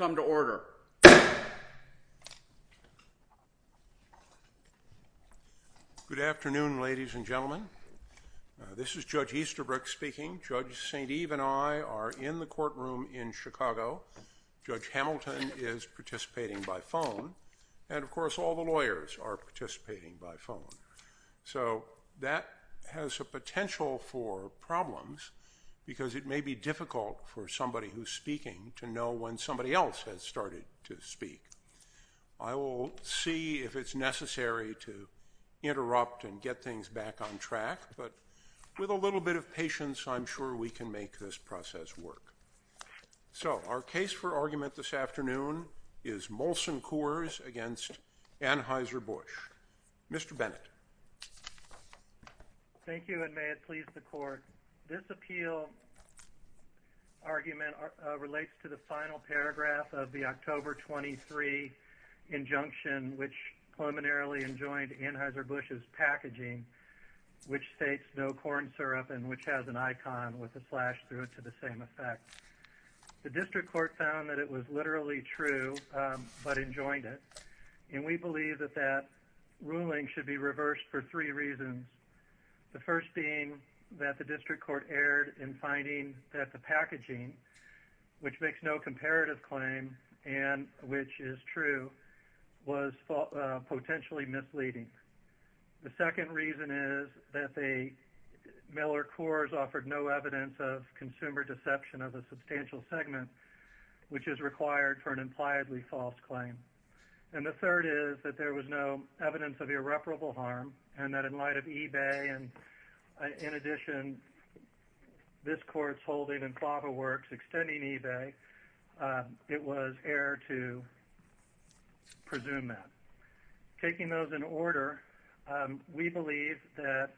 Good afternoon, ladies and gentlemen. This is Judge Easterbrook speaking. Judge St. Eve and I are in the courtroom in Chicago. Judge Hamilton is participating by phone, and of course all the lawyers are participating by phone. So that has a potential for problems because it may be difficult for somebody who's speaking to know when somebody else has started to speak. I will see if it's necessary to interrupt and get things back on track, but with a little bit of patience, I'm sure we can make this process work. So our case for argument this afternoon is Molson Coors v. Anheuser-Busch. Mr. Bennett. Thank you, and may it please the court. This appeal argument relates to the final paragraph of the October 23 injunction, which preliminarily enjoined Anheuser-Busch's packaging, which states no corn syrup and which has an icon with a slash through it to the same effect. The district court found that it was literally true, but enjoined it, and we believe that ruling should be reversed for three reasons. The first being that the district court erred in finding that the packaging, which makes no comparative claim and which is true, was potentially misleading. The second reason is that Miller Coors offered no evidence of consumer deception of a substantial segment, which is required for an impliedly false claim. And the third is that there was no evidence of irreparable harm and that in light of eBay and, in addition, this court's holding in Fava Works extending eBay, it was erred to presume that. Taking those in order, we believe that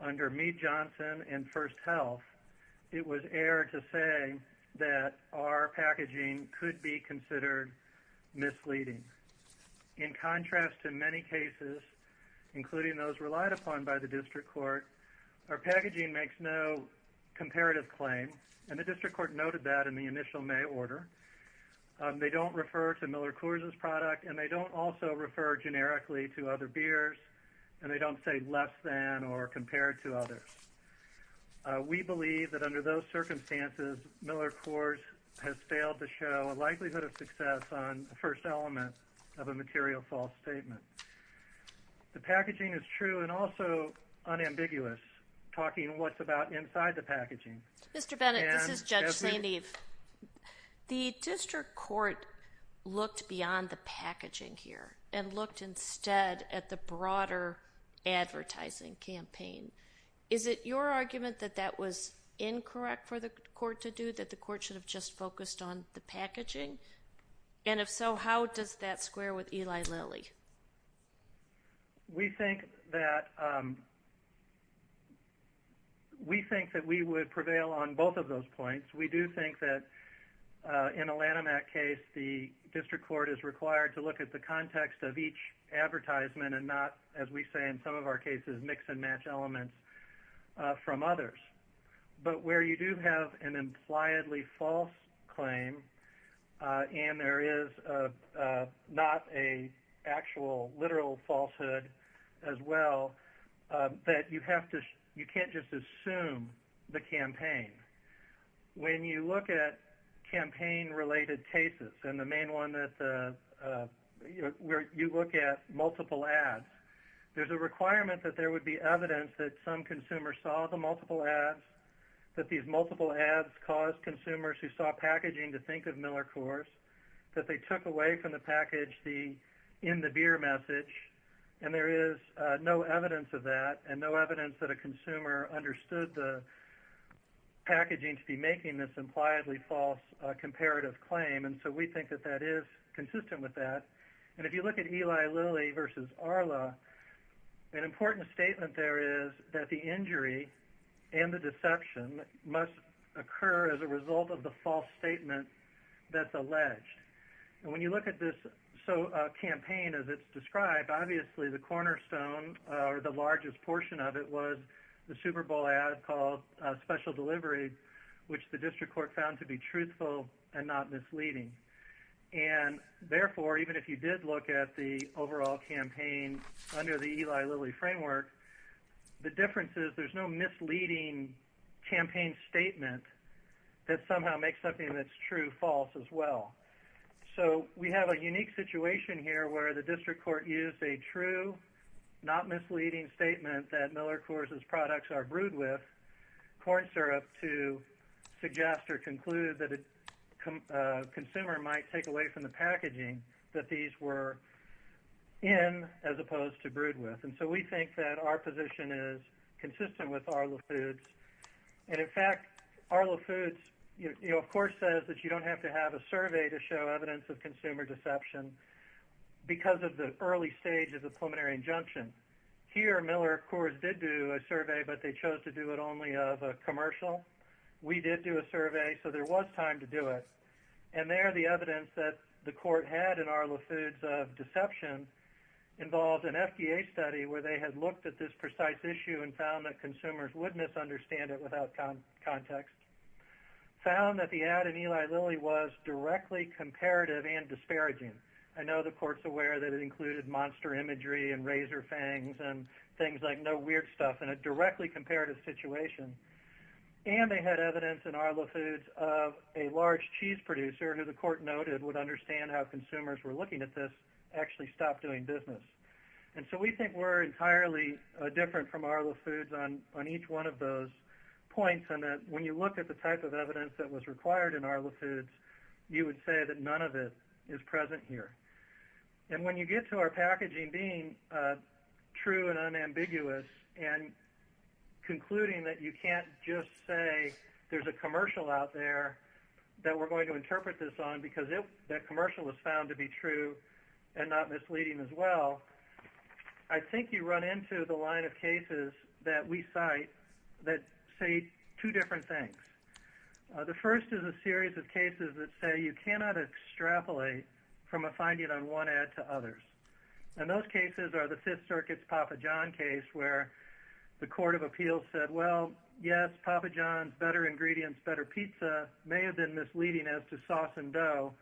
under Meade-Johnson and First Health, it was erred to say that our packaging could be considered misleading. In contrast to many cases, including those relied upon by the district court, our packaging makes no comparative claim and the district court noted that in the initial May order. They don't refer to Miller Coors' product and they don't also refer generically to other beers and they don't say less than or compared to others. We believe that under those circumstances, Miller Coors has failed to show a likelihood of success on the first element of a material false statement. The packaging is true and also unambiguous, talking what's about inside the packaging. Mr. Bennett, this is Judge St. Eve. The district court looked beyond the packaging here and looked instead at the broader advertising campaign. Is it your argument that that was incorrect for the court to do, that the court should have just focused on the packaging? And if so, how does that square with Eli Lilly? We think that we would prevail on both of those of each advertisement and not, as we say in some of our cases, mix and match elements from others. But where you do have an impliedly false claim and there is not an actual, literal falsehood as well, that you can't just assume the campaign. When you look at multiple ads, there's a requirement that there would be evidence that some consumer saw the multiple ads, that these multiple ads caused consumers who saw packaging to think of Miller Coors, that they took away from the package the in the beer message. And there is no evidence of that and no evidence that a consumer understood the packaging to be making this impliedly false comparative claim. And so we think that that is consistent with that. And if you look at Eli Lilly versus Arla, an important statement there is that the injury and the deception must occur as a result of the false statement that's alleged. And when you look at this campaign as it's described, obviously the cornerstone or the largest portion of it was the Super Bowl ad called Special Delivery, which the district court found to be truthful and not misleading. And therefore, even if you did look at the overall campaign under the Eli Lilly framework, the difference is there's no misleading campaign statement that somehow makes something that's true false as well. So we have a unique situation here where the district court used a true, not misleading statement that Miller Coors' products are brewed with corn syrup to suggest or conclude that a consumer might take away from the packaging that these were in as opposed to brewed with. And so we think that our position is consistent with Arla Foods. And in fact, Arla Foods, you know, of course, says that you don't have to have a survey to show evidence of consumer deception because of the early stage of the preliminary injunction. Here, Miller, of course, did do a survey, but they chose to do it only of a commercial. We did do a survey, so there was time to do it. And there, the evidence that the court had in Arla Foods of deception involved an FDA study where they had looked at this precise issue and found that consumers would misunderstand it without context. Found that the ad in Eli Lilly was directly comparative and disparaging. I know the court's aware that it included monster imagery and razor fangs and things like no weird stuff in a directly comparative situation. And they had evidence in Arla Foods of a large cheese producer who the court noted would understand how consumers were looking at this actually stopped doing business. And so we think we're entirely different from Arla Foods on each one of those points and that when you look at the type of evidence that was is present here. And when you get to our packaging being true and unambiguous and concluding that you can't just say there's a commercial out there that we're going to interpret this on because that commercial was found to be true and not misleading as well, I think you run into the line of cases that we cite that say two different things. The first is a series of cases that say you cannot extrapolate from a finding on one ad to others. And those cases are the Fifth Circuit's Papa John case where the court of appeals said well yes Papa John's better ingredients better pizza may have been misleading as to sauce and dough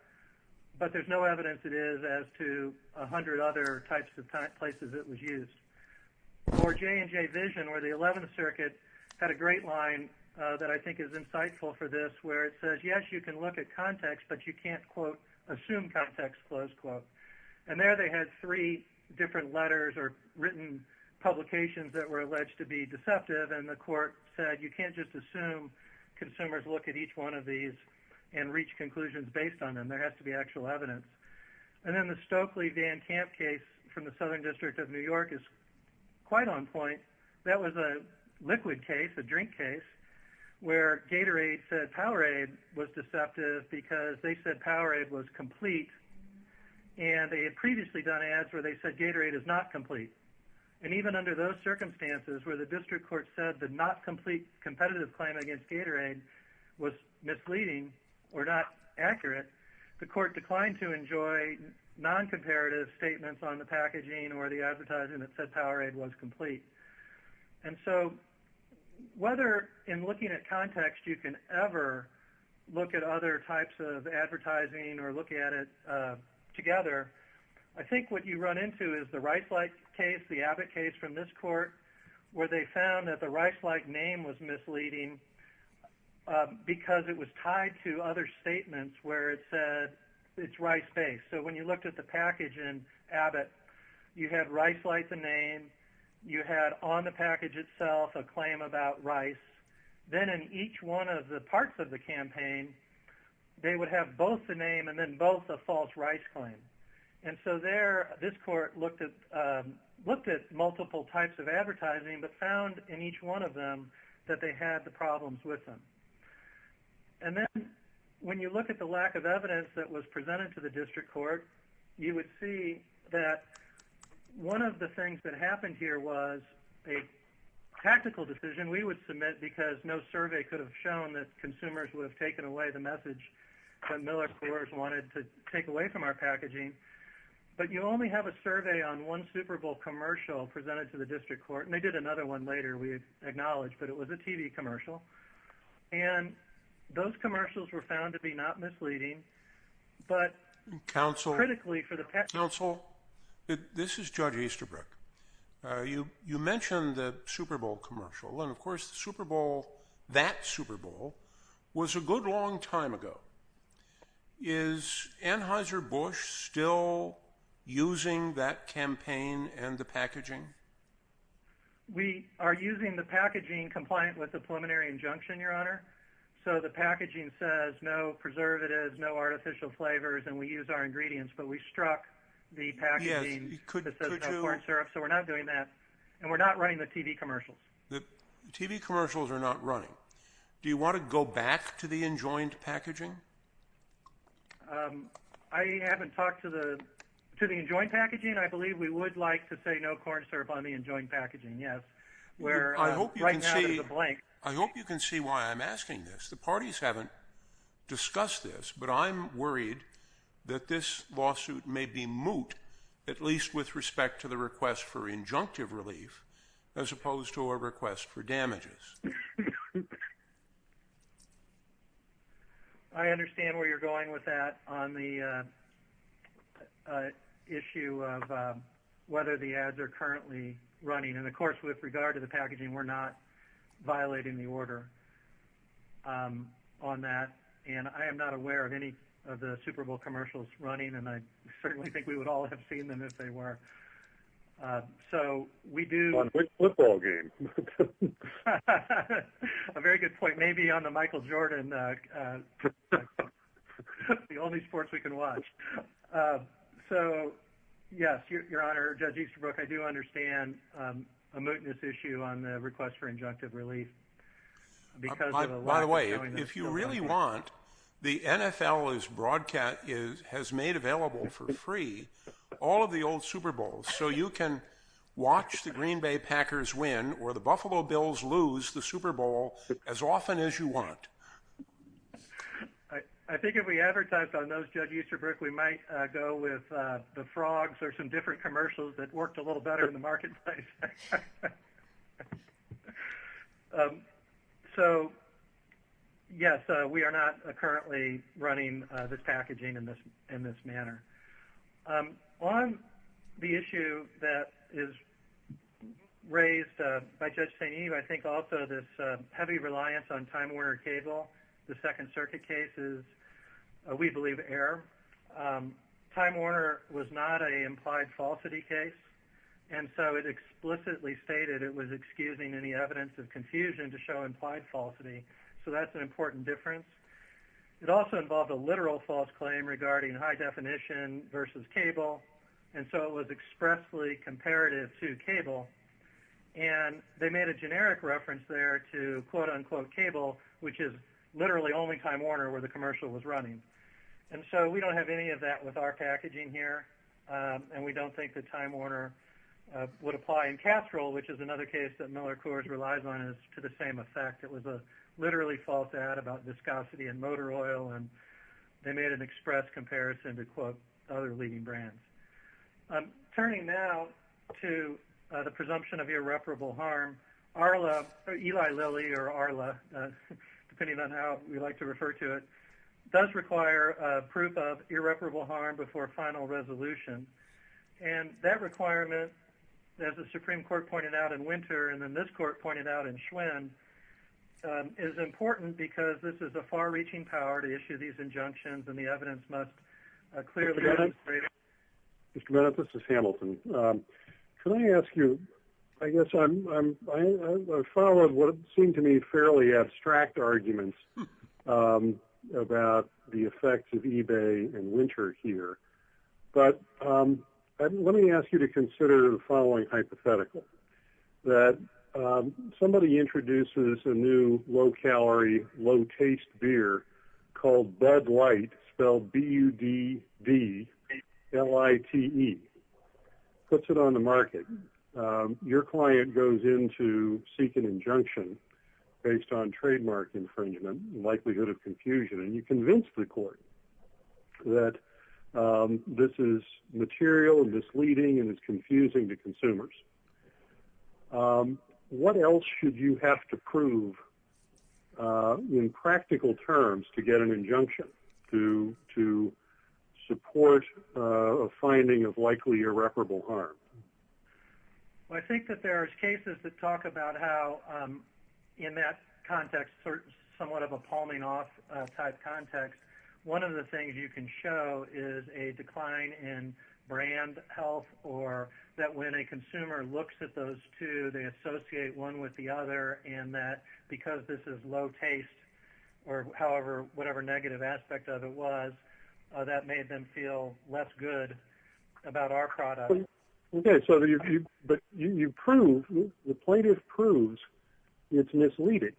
but there's no evidence it is as to a hundred other types of places it was used. Or J&J Vision where the Eleventh Circuit had a great line that I think is insightful for this where it says yes you can look at context but you can't quote assume context close quote. And there they had three different letters or written publications that were alleged to be deceptive and the court said you can't just assume consumers look at each one of these and reach conclusions based on them there has to be actual evidence. And then the Stokely Van Camp case from the quite on point that was a liquid case a drink case where Gatorade said Powerade was deceptive because they said Powerade was complete and they had previously done ads where they said Gatorade is not complete. And even under those circumstances where the district court said the not complete competitive claim against Gatorade was misleading or not accurate the court declined to enjoy non-comparative statements on the packaging or the advertising that said Powerade was complete. And so whether in looking at context you can ever look at other types of advertising or look at it together I think what you run into is the Rice-like case the Abbott case from this court where they found that the Rice-like name was misleading because it was tied to other statements where it said it's Rice-based. So when you looked at the package in Abbott you had Rice-like the name you had on the package itself a claim about Rice then in each one of the parts of the campaign they would have both the name and then both a false Rice claim. And so there this court looked at looked at multiple types of advertising but found in each one of them that they had the lack of evidence that was presented to the district court you would see that one of the things that happened here was a tactical decision we would submit because no survey could have shown that consumers would have taken away the message that Miller Coors wanted to take away from our packaging. But you only have a survey on one Super Bowl commercial presented to the district court and they did another one later we acknowledged but it was a TV commercial. And those commercials were found to be not misleading but council critically for the pet council. This is Judge Easterbrook. You mentioned the Super Bowl commercial and of course the Super Bowl that Super Bowl was a good long time ago. Is Anheuser-Busch still using that campaign and the packaging? We are using the packaging compliant with the preliminary injunction your packaging says no preservatives no artificial flavors and we use our ingredients but we struck the packaging. So we're not doing that and we're not running the TV commercials. The TV commercials are not running. Do you want to go back to the enjoined packaging? I haven't talked to the to the enjoined packaging. I believe we would like to say no corn syrup on the enjoined packaging. Yes where I hope you can see the blank. I hope you can see why I'm asking this. The parties haven't discussed this but I'm worried that this lawsuit may be moot at least with respect to the request for injunctive relief as opposed to a request for damages. I understand where you're going with that on the issue of whether the ads are currently running and of course with regard to the packaging we're not on that and I am not aware of any of the Super Bowl commercials running and I certainly think we would all have seen them if they were. So we do a very good point maybe on the Michael Jordan the only sports we can watch. So yes your honor Judge Easterbrook I do understand a mootness issue on the request for injunctive relief. By the way if you really want the NFL is broadcast is has made available for free all of the old Super Bowls so you can watch the Green Bay Packers win or the Buffalo Bills lose the Super Bowl as often as you want. I think if we advertise on those Judge Easterbrook we might go with the Frogs or some different commercials that worked a little better in the marketplace. So yes we are not currently running this packaging in this in this manner. On the issue that is raised by Judge St. Eve I think also this heavy reliance on Time Warner Cable the Time Warner was not an implied falsity case and so it explicitly stated it was excusing any evidence of confusion to show implied falsity so that's an important difference. It also involved a literal false claim regarding high definition versus cable and so it was expressly comparative to cable and they made a generic reference there to quote unquote cable which is literally only was running and so we don't have any of that with our packaging here and we don't think that Time Warner would apply in casserole which is another case that Miller Coors relies on is to the same effect. It was a literally false ad about viscosity and motor oil and they made an express comparison to quote other leading brands. I'm turning now to the presumption of irreparable harm. Arla Eli Lilly or Arla depending on how we like to refer to it does require a proof of irreparable harm before final resolution and that requirement as the Supreme Court pointed out in Winter and then this court pointed out in Schwinn is important because this is a far reaching power to issue these injunctions and the evidence must clearly Mr. Bennett this is Hamilton. Can I ask you I guess I'm I followed what seemed to me fairly abstract arguments about the effects of eBay and Winter here but let me ask you to consider the following hypothetical that somebody introduces a new low calorie low taste beer called Bud Light spelled B U D D L I T E puts it on the market. Your client goes in to seek an injunction based on trademark infringement likelihood of confusion and you convince the court that this is material and misleading and it's confusing to consumers. What else should you have to prove in practical terms to get an injunction to to support a finding of likely irreparable harm. Well I think that there is cases that talk about how in that context somewhat of a palming off type context. One of the things you can show is a decline in brand health or that when a consumer looks at those two they associate one with the other and that because this is low taste or however whatever negative aspect of it was that made them feel less good about our product. Okay so you but you prove the plaintiff proves it's misleading.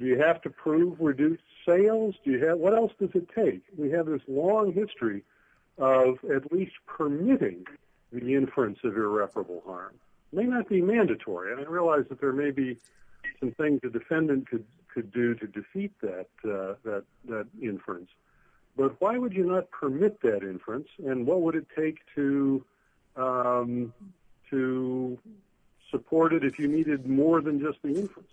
Do you have to prove reduced sales. Do you have what else does it take. We have this long history of at least permitting the inference of irreparable harm may not be mandatory. And I realize that there may be some things the defendant could could do to defeat that that that inference. But why would you not permit that inference and what would it take to to support it if you needed more than just the inference.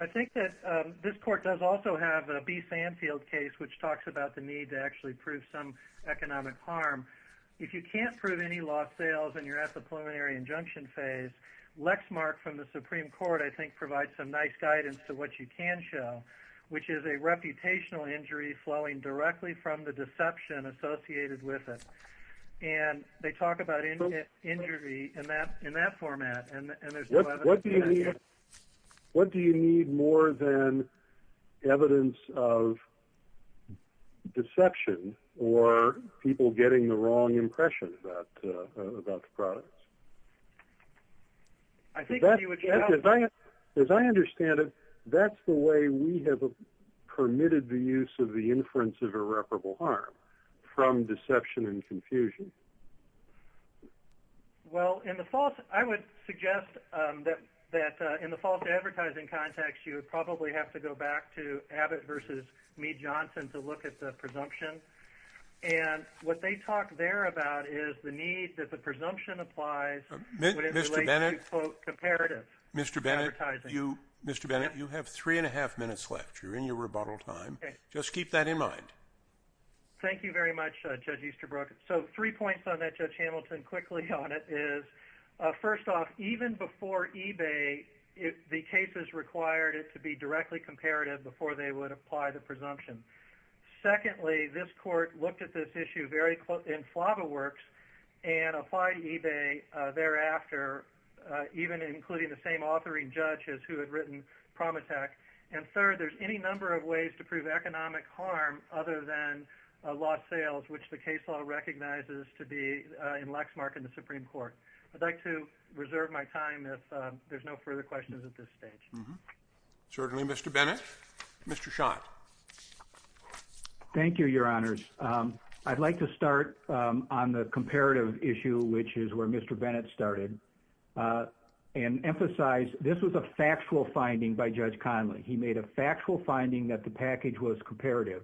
I think that this court does also have a B Fanfield case which talks about the need to actually prove some economic harm. If you can't prove any lost sales and you're at the provide some nice guidance to what you can show which is a reputational injury flowing directly from the deception associated with it. And they talk about it. Injury in that in that format. What do you need more than evidence of deception or people getting the wrong impression about the products. I think you would. As I as I understand it that's the way we have permitted the use of the inference of irreparable harm from deception and confusion. Well in the false I would suggest that that in the false advertising context you would probably have to go back to Abbott versus me Johnson to look at the presumption and what they talk there about is the need that the presumption applies Mr. Bennett. Comparative Mr. Bennett you Mr. Bennett you have three and a half minutes left you're in your rebuttal time. Just keep that in mind. Thank you very much Judge Easterbrook. So three points on that Judge Hamilton quickly on it is first off even before eBay if the case is required it to be directly comparative before they would apply the presumption. Secondly this court looked at this issue very close in Flava Works and applied eBay thereafter even including the same authoring judges who had written Promethek. And third there's any number of ways to prove economic harm other than lost sales which the case law recognizes to be in Lexmark in the Supreme Court. I'd like to reserve my time if there's no further questions at this stage. Certainly Mr. Bennett. Mr. Schott. Thank you your honors. I'd like to start on the comparative issue which is where Mr. Bennett started and emphasize this was a factual finding by Judge Conley. He made a factual finding that the package was comparative.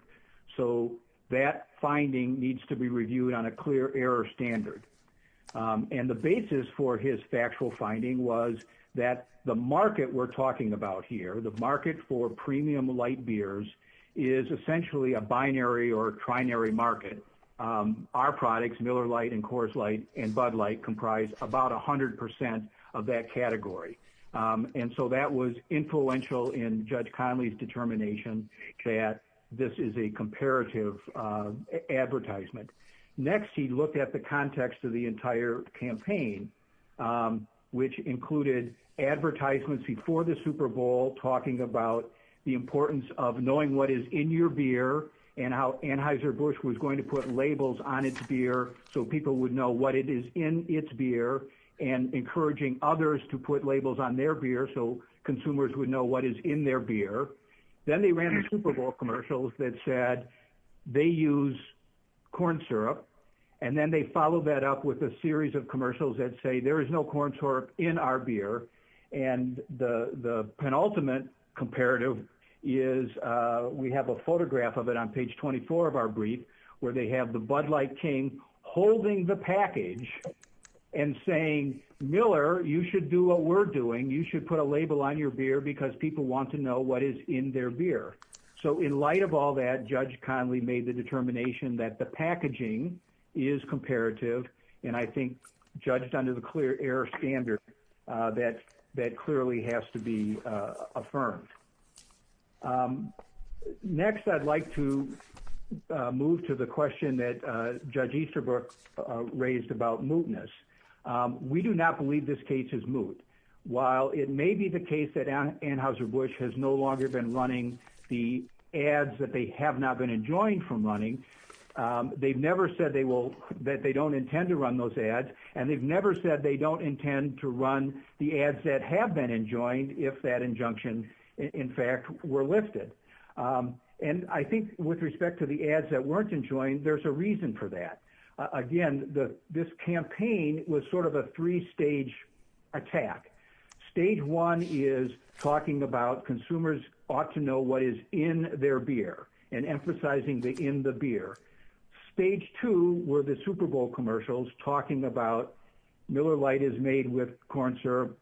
So that finding needs to be reviewed on a clear error standard and the basis for his factual finding was that the market we're talking about here the market for premium light beers is essentially a binary or trinary market. Our products Miller Light and Coors Light and Bud Light comprise about 100 percent of that category. And so that was influential in Judge Conley's determination that this is a comparative advertisement. Next he looked at the importance of knowing what is in your beer and how Anheuser-Busch was going to put labels on its beer so people would know what it is in its beer and encouraging others to put labels on their beer so consumers would know what is in their beer. Then they ran the Super Bowl commercials that said they use corn syrup and then they followed that up with a series of commercials that say there is no corn syrup in our beer. And the penultimate comparative is we have a photograph of it on page 24 of our brief where they have the Bud Light King holding the package and saying Miller you should do what we're doing you should put a label on your beer because people want to know what is in their beer. So in light of all that Judge Conley made the determination that the packaging is comparative and I think judged under the clear air standard that clearly has to be affirmed. Next I'd like to move to the question that Judge Easterbrook raised about mootness. We do not believe this case is moot. While it may be the case that Anheuser-Busch has no longer been running the ads that they have not been enjoying from running they've never said they will that they don't intend to run those ads and they've never said they don't intend to run the ads that have been enjoined if that injunction in fact were lifted. And I think with respect to the ads that weren't enjoined there's a reason for that. Again this campaign was sort of a three-stage attack. Stage one is talking about consumers ought to know what is in their beer and emphasizing the in the beer. Stage two were the Super Bowl commercials talking about Miller Light is made with corn syrup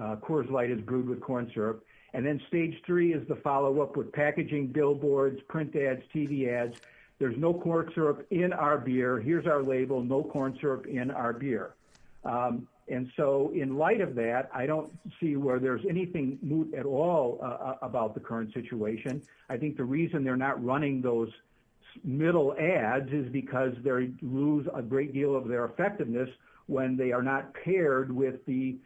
Coors Light is brewed with corn syrup and then stage three is the follow-up with packaging billboards print ads TV ads there's no corn syrup in our beer here's our label no corn syrup in our beer. And so in light of that I don't see where there's anything moot at all about the current situation. I think the reason they're not running those middle ads is because they lose a great deal of their effectiveness when they are not paired with the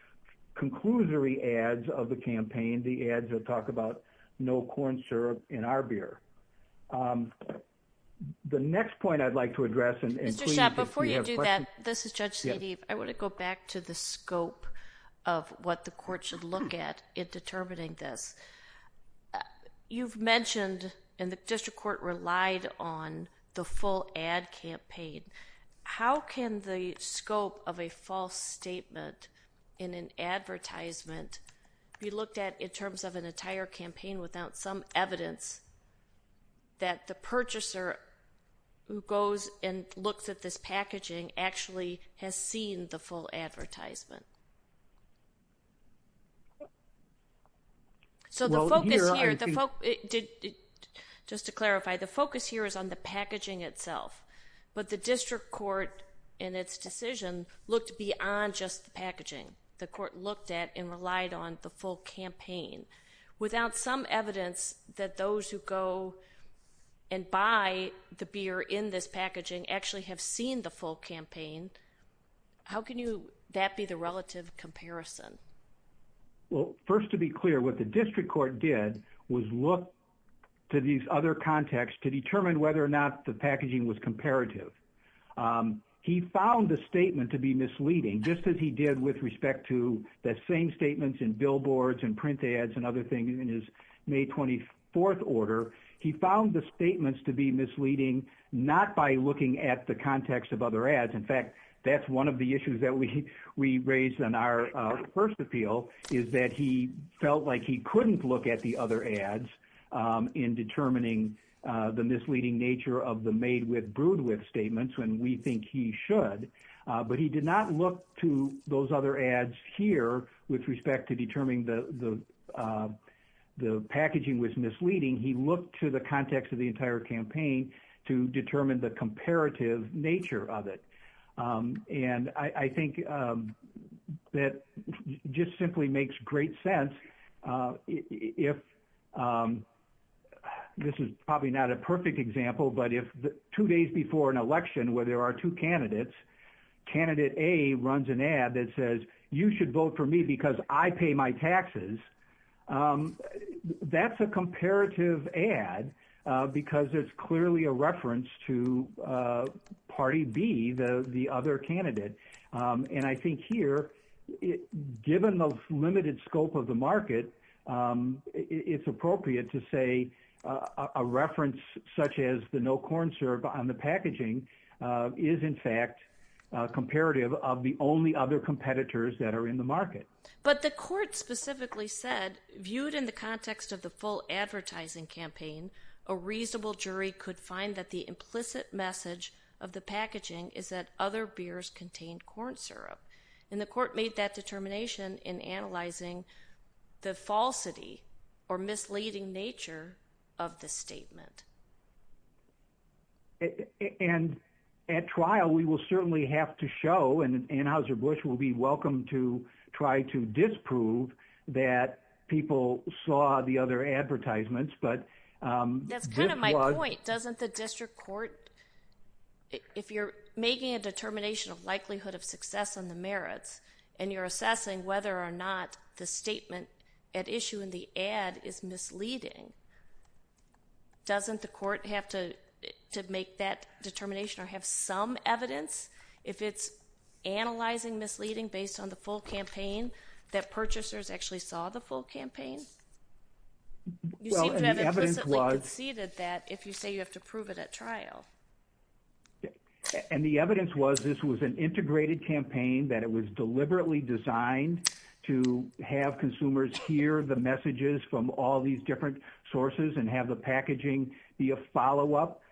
conclusory ads of the campaign the ads that talk about no corn syrup in our beer. The next point I'd like to address and Mr. Schott before you do that this is Judge Sidibe I want to go back to the scope of what the court should look at in determining this. You've mentioned and the district court relied on the full ad campaign. How can the scope of a false statement in an advertisement be looked at in terms of an entire campaign without some evidence that the purchaser who goes and looks at this packaging actually has seen the full advertisement? So the focus here just to clarify the focus here is on the packaging itself but the district court in its decision looked beyond just the packaging the court looked at and relied on the full campaign without some evidence that those who go and buy the beer in this packaging actually have seen the full campaign. How can you that be the relative comparison? Well first to be clear what the district court did was look to these other contexts to determine whether or not the packaging was comparative. He found the statement to be misleading just as he did with respect to the same statements in billboards and print ads and other things in his May 24th order. He found the statements to be misleading not by looking at the context of other ads. In fact that's one of the issues that we we raised in our first appeal is that he felt like he couldn't look at the other ads in determining the misleading nature of the made with brewed with statements when we think he should but he did not look to those other ads here with respect to determining the the packaging was misleading. He looked to the context of the entire campaign to determine the comparative nature of it and I think that just simply makes great sense if this is probably not a perfect example but if the two days before an election where there are two candidates candidate A runs an ad that says you should vote for me because I pay my taxes that's a comparative ad because it's clearly a reference to party B the the other candidate and I think here given the limited scope of the market it's appropriate to say a reference such as the no corn syrup on the packaging is in fact comparative of the only other competitors that are in the market. But the court specifically said viewed in the context of the full advertising campaign a reasonable jury could find that the implicit message of the packaging is that other beers contained corn syrup and the court made that determination in analyzing the falsity or misleading nature of the statement. And at trial we will certainly have to show and Anheuser-Busch will be welcome to try to disprove that people saw the other advertisements but that's kind of my point doesn't the district court if you're making a determination of likelihood of success on the merits and you're assessing whether or not the statement at issue in the ad is misleading doesn't the court have to to make that determination or have some evidence if it's analyzing misleading based on the full campaign that purchasers actually saw the full campaign? You seem to have implicitly conceded that if you say you have to prove it at trial. And the evidence was this was an integrated campaign that it was deliberately designed to have consumers hear the messages from all these different sources and have the packaging be a follow-up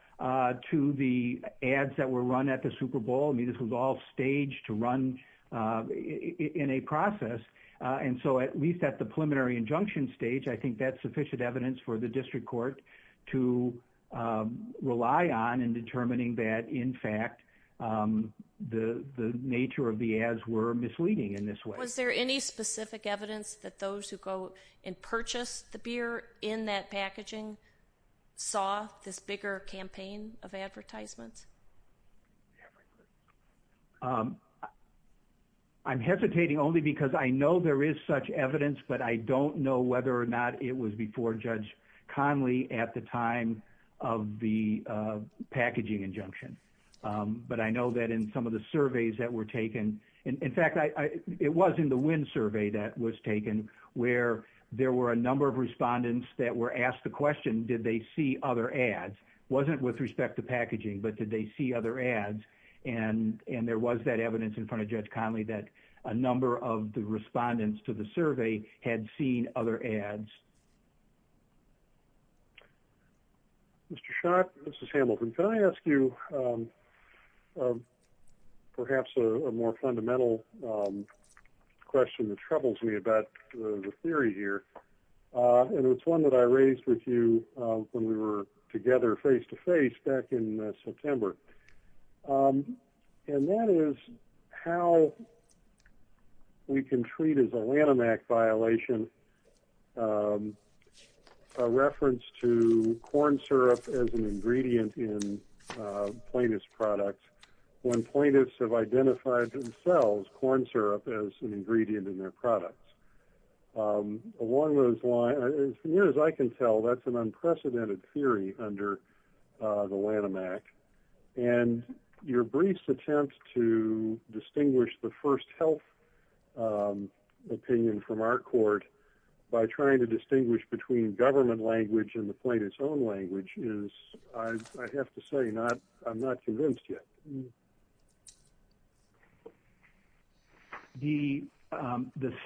to the ads that were run at the Super Bowl. I mean this was all staged to run in a process and so at least at the preliminary injunction stage I think that's sufficient evidence for the district court to rely on in determining that in fact the the nature of the ads were misleading in this way. Was there any specific evidence that those who go and purchase the beer in that packaging saw this bigger campaign of advertisements? I'm hesitating only because I know there is such evidence but I don't know whether or not it was before Judge Conley at the time of the packaging injunction but I know that in some of the surveys that were taken in fact I it was in the wind survey that was taken where there were a number of respondents that were asked the question did they see other ads wasn't with respect to packaging but did they see other ads and and there was that evidence in front of Judge Conley that a number of the respondents to the survey had seen other ads. Mr. Schott, Mrs. Hamilton, can I ask you perhaps a more fundamental question that troubles me about the theory here and it's one that I raised with you when we were together face-to-face back in September and that is how we can treat as a Lanham Act violation a reference to corn syrup as an ingredient in plaintiff's products when plaintiffs have identified themselves corn syrup as an ingredient in their products. Along those lines as near as I can tell that's an unprecedented theory under the Lanham Act and your brief attempt to distinguish the first health opinion from our court by trying to distinguish between government language and the plaintiff's own language is I have to say not I'm not convinced yet. The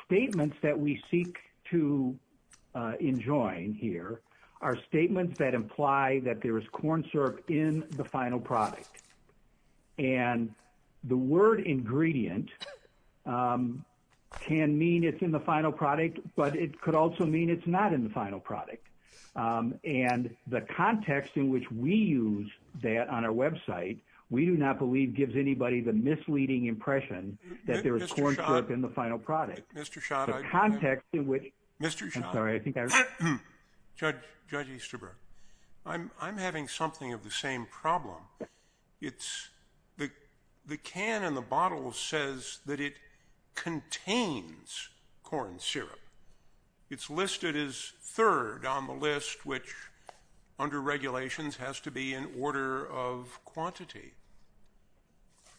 statements that we seek to enjoin here are statements that imply that there is corn syrup in the final product and the word ingredient can mean it's in the final product but it could also mean it's not in the final product and the context in which we use that on our website we do not believe gives anybody the misleading impression that there is corn syrup in the final product. Mr. Schott, I'm having something of the same problem. It's the can and the bottle says that it contains corn syrup. It's listed as third on the list which under regulations has to be in order of quantity.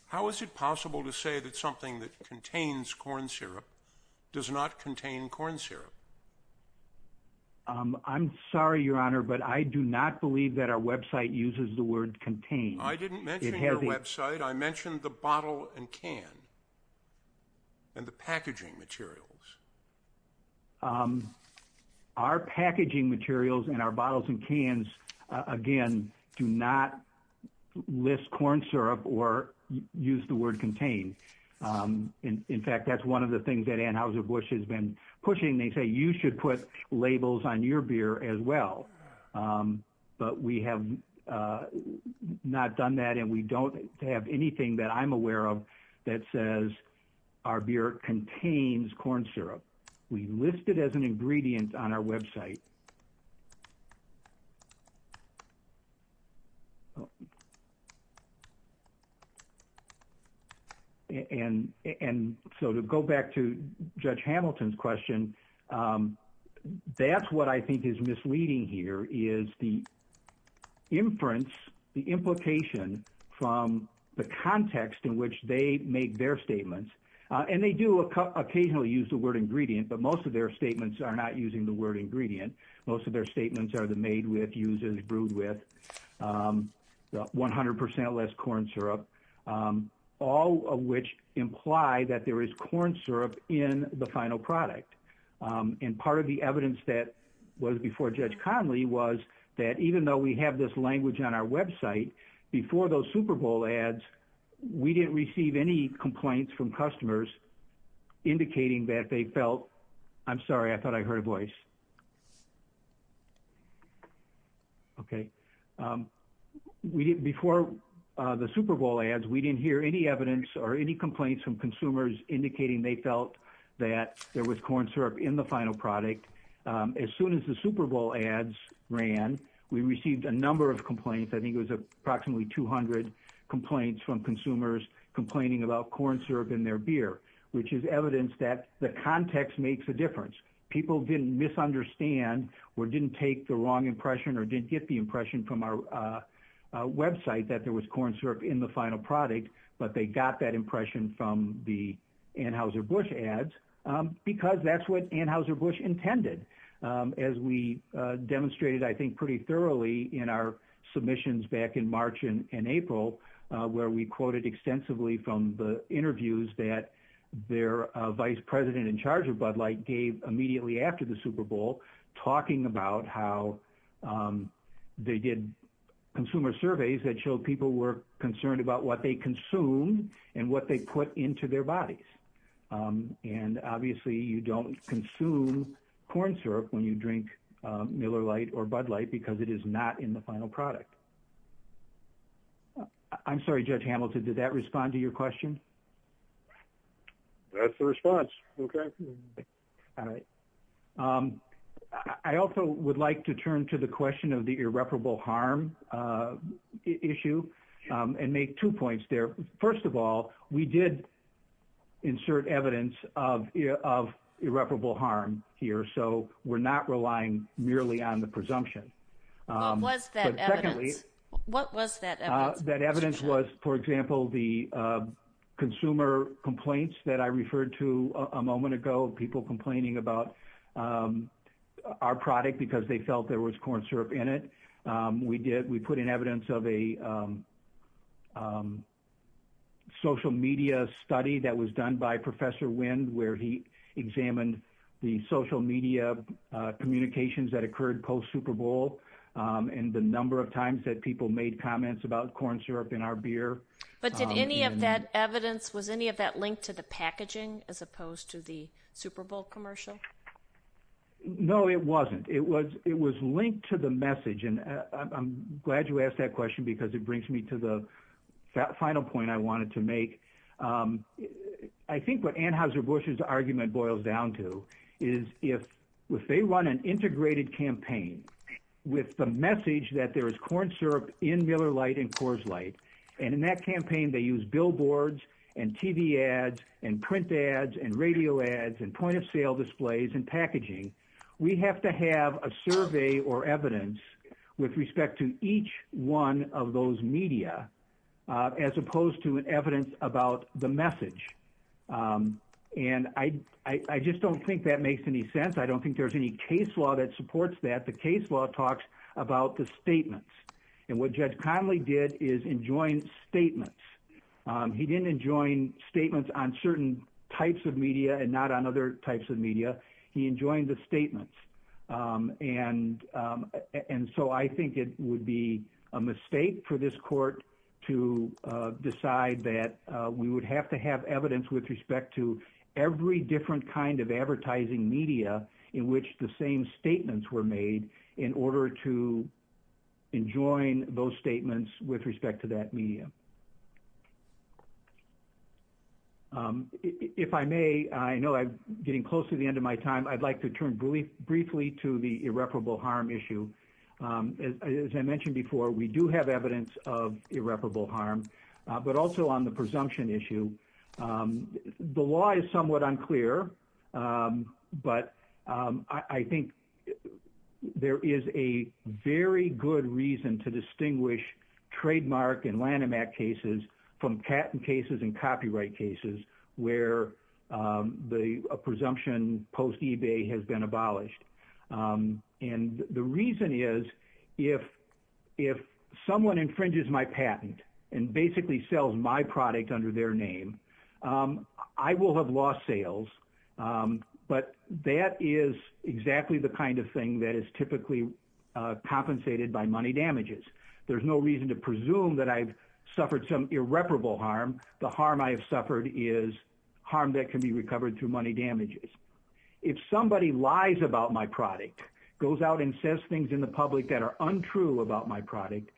How is it possible to say that something that contains corn syrup does not contain corn syrup? I'm sorry your honor but I do not believe that our website uses the word contain. I didn't mention your website. I mentioned the bottle and can and the packaging materials. Our packaging materials and our bottles and cans again do not list corn syrup or use the word contain. In fact that's one of the things that Anheuser-Busch has been not done that and we don't have anything that I'm aware of that says our beer contains corn syrup. We list it as an ingredient on our website and so to go back to Judge Hamilton's question that's what I think is misleading here is the inference, the implication from the context in which they make their statements and they do occasionally use the word ingredient but most of their statements are not using the word ingredient. Most of their statements are the made with, uses, brewed with, 100 percent less corn syrup, all of which imply that there is corn syrup in the final product and part of the evidence that was before Judge Conley was that even though we have this language on our website before those Super Bowl ads we didn't receive any complaints from customers indicating that they felt, I'm sorry I thought I heard a voice, okay, we didn't before the Super Bowl ads we didn't hear any evidence or any complaints from the consumers. As soon as the Super Bowl ads ran we received a number of complaints. I think it was approximately 200 complaints from consumers complaining about corn syrup in their beer which is evidence that the context makes a difference. People didn't misunderstand or didn't take the wrong impression or didn't get the impression from our website that there was corn syrup in the final product but they got that impression from the Anheuser-Busch ads because that's what Anheuser-Busch intended as we demonstrated I think pretty thoroughly in our submissions back in March and April where we quoted extensively from the interviews that their vice president in charge of Bud Light gave immediately after the Super Bowl talking about how they did consumer surveys that showed people were concerned about what they obviously you don't consume corn syrup when you drink Miller Light or Bud Light because it is not in the final product. I'm sorry Judge Hamilton did that respond to your question? That's the response okay. All right I also would like to turn to the question of the irreparable harm issue and make two points there. First of all we did insert evidence of irreparable harm here so we're not relying merely on the presumption. What was that evidence? That evidence was for example the consumer complaints that I referred to a moment ago people complaining about our product because they felt there was corn syrup in it. We did we put in evidence of a social media study that was done by Professor Wind where he examined the social media communications that occurred post Super Bowl and the number of times that people made comments about corn syrup in our beer. But did any of that evidence was any of that linked to the packaging as opposed to the Super Bowl commercial? No it wasn't. It was it was linked to the message and I'm glad you asked that question because it brings me to the final point I wanted to make. I think what Anheuser-Busch's argument boils down to is if if they run an integrated campaign with the message that there is corn syrup in Miller Light and Coors Light and in that campaign they use billboards and TV ads and print ads and radio ads and point-of-sale displays and packaging we have to have a survey or evidence with respect to each one of those media as opposed to an evidence about the message. And I just don't think that makes any sense. I don't think there's any case law that supports that. The case law talks about the statements and what Judge Conley did is enjoin statements. He didn't enjoin statements on certain types of media and not on other types of media. He enjoined the statements and so I think it would be a mistake for this court to decide that we would have to have evidence with respect to every different kind of advertising media in which the same statements were made in order to enjoin those statements with respect to that media. If I may, I know I'm getting close to the end of my time, I'd like to turn briefly to the irreparable harm issue. As I mentioned before we do have evidence of irreparable harm but I think there is a very good reason to distinguish trademark and Lanham Act cases from patent cases and copyright cases where the presumption post-eBay has been abolished. And the reason is if someone infringes my patent and basically sells my product under their name I will have lost sales but that is exactly the kind of thing that is typically compensated by money damages. There's no reason to presume that I've suffered some irreparable harm. The harm I have suffered is harm that can be recovered through money damages. If somebody lies about my product, goes out and says things in the public that are untrue about my product,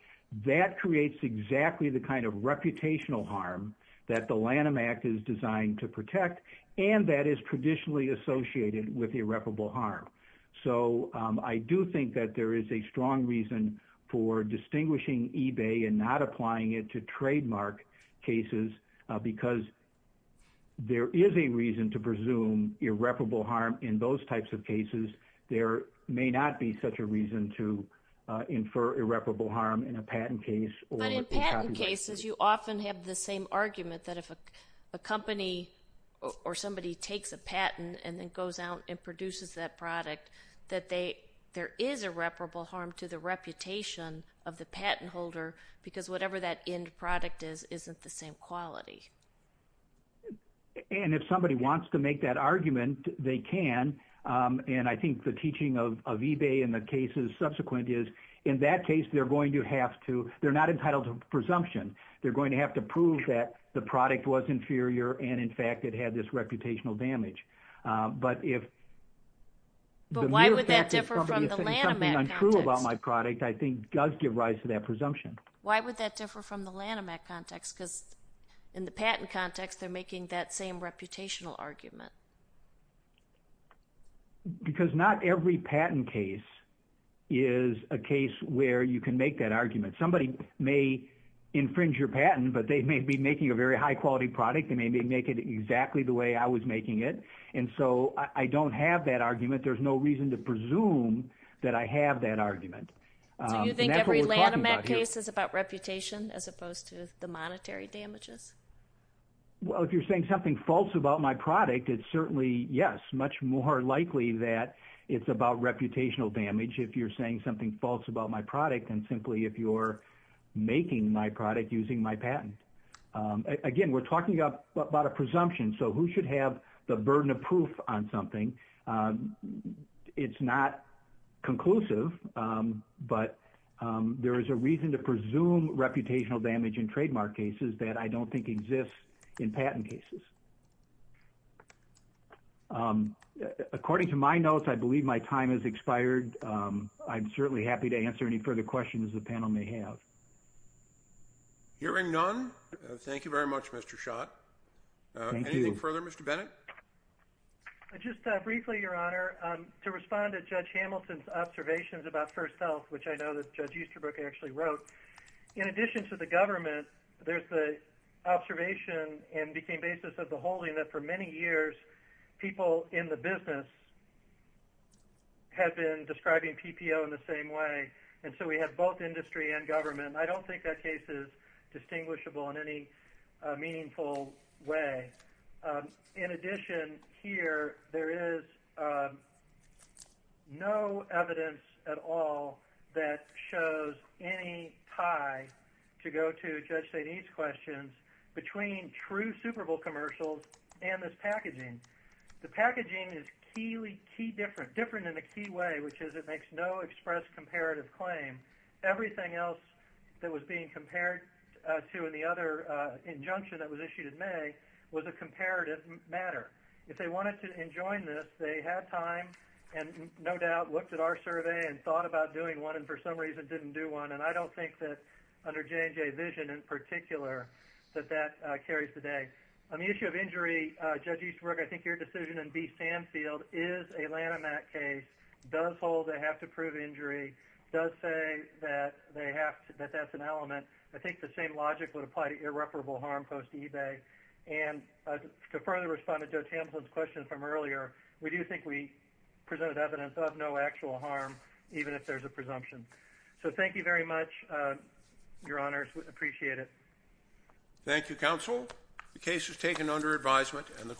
that creates exactly the kind of reputational harm that the Lanham Act is designed to protect and that is traditionally associated with irreparable harm. So I do think that there is a strong reason for distinguishing eBay and not applying it to trademark cases because there is a reason to presume irreparable harm in those types of cases. There may not be such a patent case. But in patent cases you often have the same argument that if a company or somebody takes a patent and then goes out and produces that product that there is irreparable harm to the reputation of the patent holder because whatever that end product is, isn't the same quality. And if somebody wants to make that argument they can and I think the teaching of they're not entitled to presumption. They're going to have to prove that the product was inferior and in fact it had this reputational damage. But why would that differ from the Lanham Act? Something untrue about my product I think does give rise to that presumption. Why would that differ from the Lanham Act context? Because in the patent context they're making that same reputational argument. Because not every patent case is a case where you can make that argument. Somebody may infringe your patent but they may be making a very high quality product. They may make it exactly the way I was making it. And so I don't have that argument. There's no reason to presume that I have that argument. So you think every Lanham Act case is about reputation as opposed to the monetary damages? Well if you're saying something false about my product it's because certainly yes much more likely that it's about reputational damage if you're saying something false about my product than simply if you're making my product using my patent. Again we're talking about a presumption so who should have the burden of proof on something? It's not conclusive but there is a reason to presume reputational damage in trademark cases that I don't think exists in patent cases. According to my notes I believe my time has expired. I'm certainly happy to answer any further questions the panel may have. Hearing none thank you very much Mr. Schott. Anything further Mr. Bennett? Just briefly your honor to respond to Judge Hamilton's observations about First Health which I know that Judge Easterbrook actually wrote. In addition to the observation and became basis of the holding that for many years people in the business have been describing PPO in the same way and so we have both industry and government. I don't think that case is distinguishable in any meaningful way. In addition here there is no evidence at all that shows any tie to go to Judge St. Ede's questions between true Super Bowl commercials and this packaging. The packaging is key different in a key way which is it makes no express comparative claim. Everything else that was being compared to in the other injunction in May was a comparative matter. If they wanted to enjoin this they had time and no doubt looked at our survey and thought about doing one and for some reason didn't do one and I don't think that under J&J vision in particular that that carries today. On the issue of injury Judge Easterbrook I think your decision in B. Sanfield is a Lanham Act case, does hold they have to prove injury, does say that they have to that's an element. I think the same logic would apply to irreparable harm post eBay and to further respond to Joe Tamplin's question from earlier we do think we presented evidence of no actual harm even if there's a presumption. So thank you very much your honors we appreciate it. Thank you counsel the case is taken under advisement and the court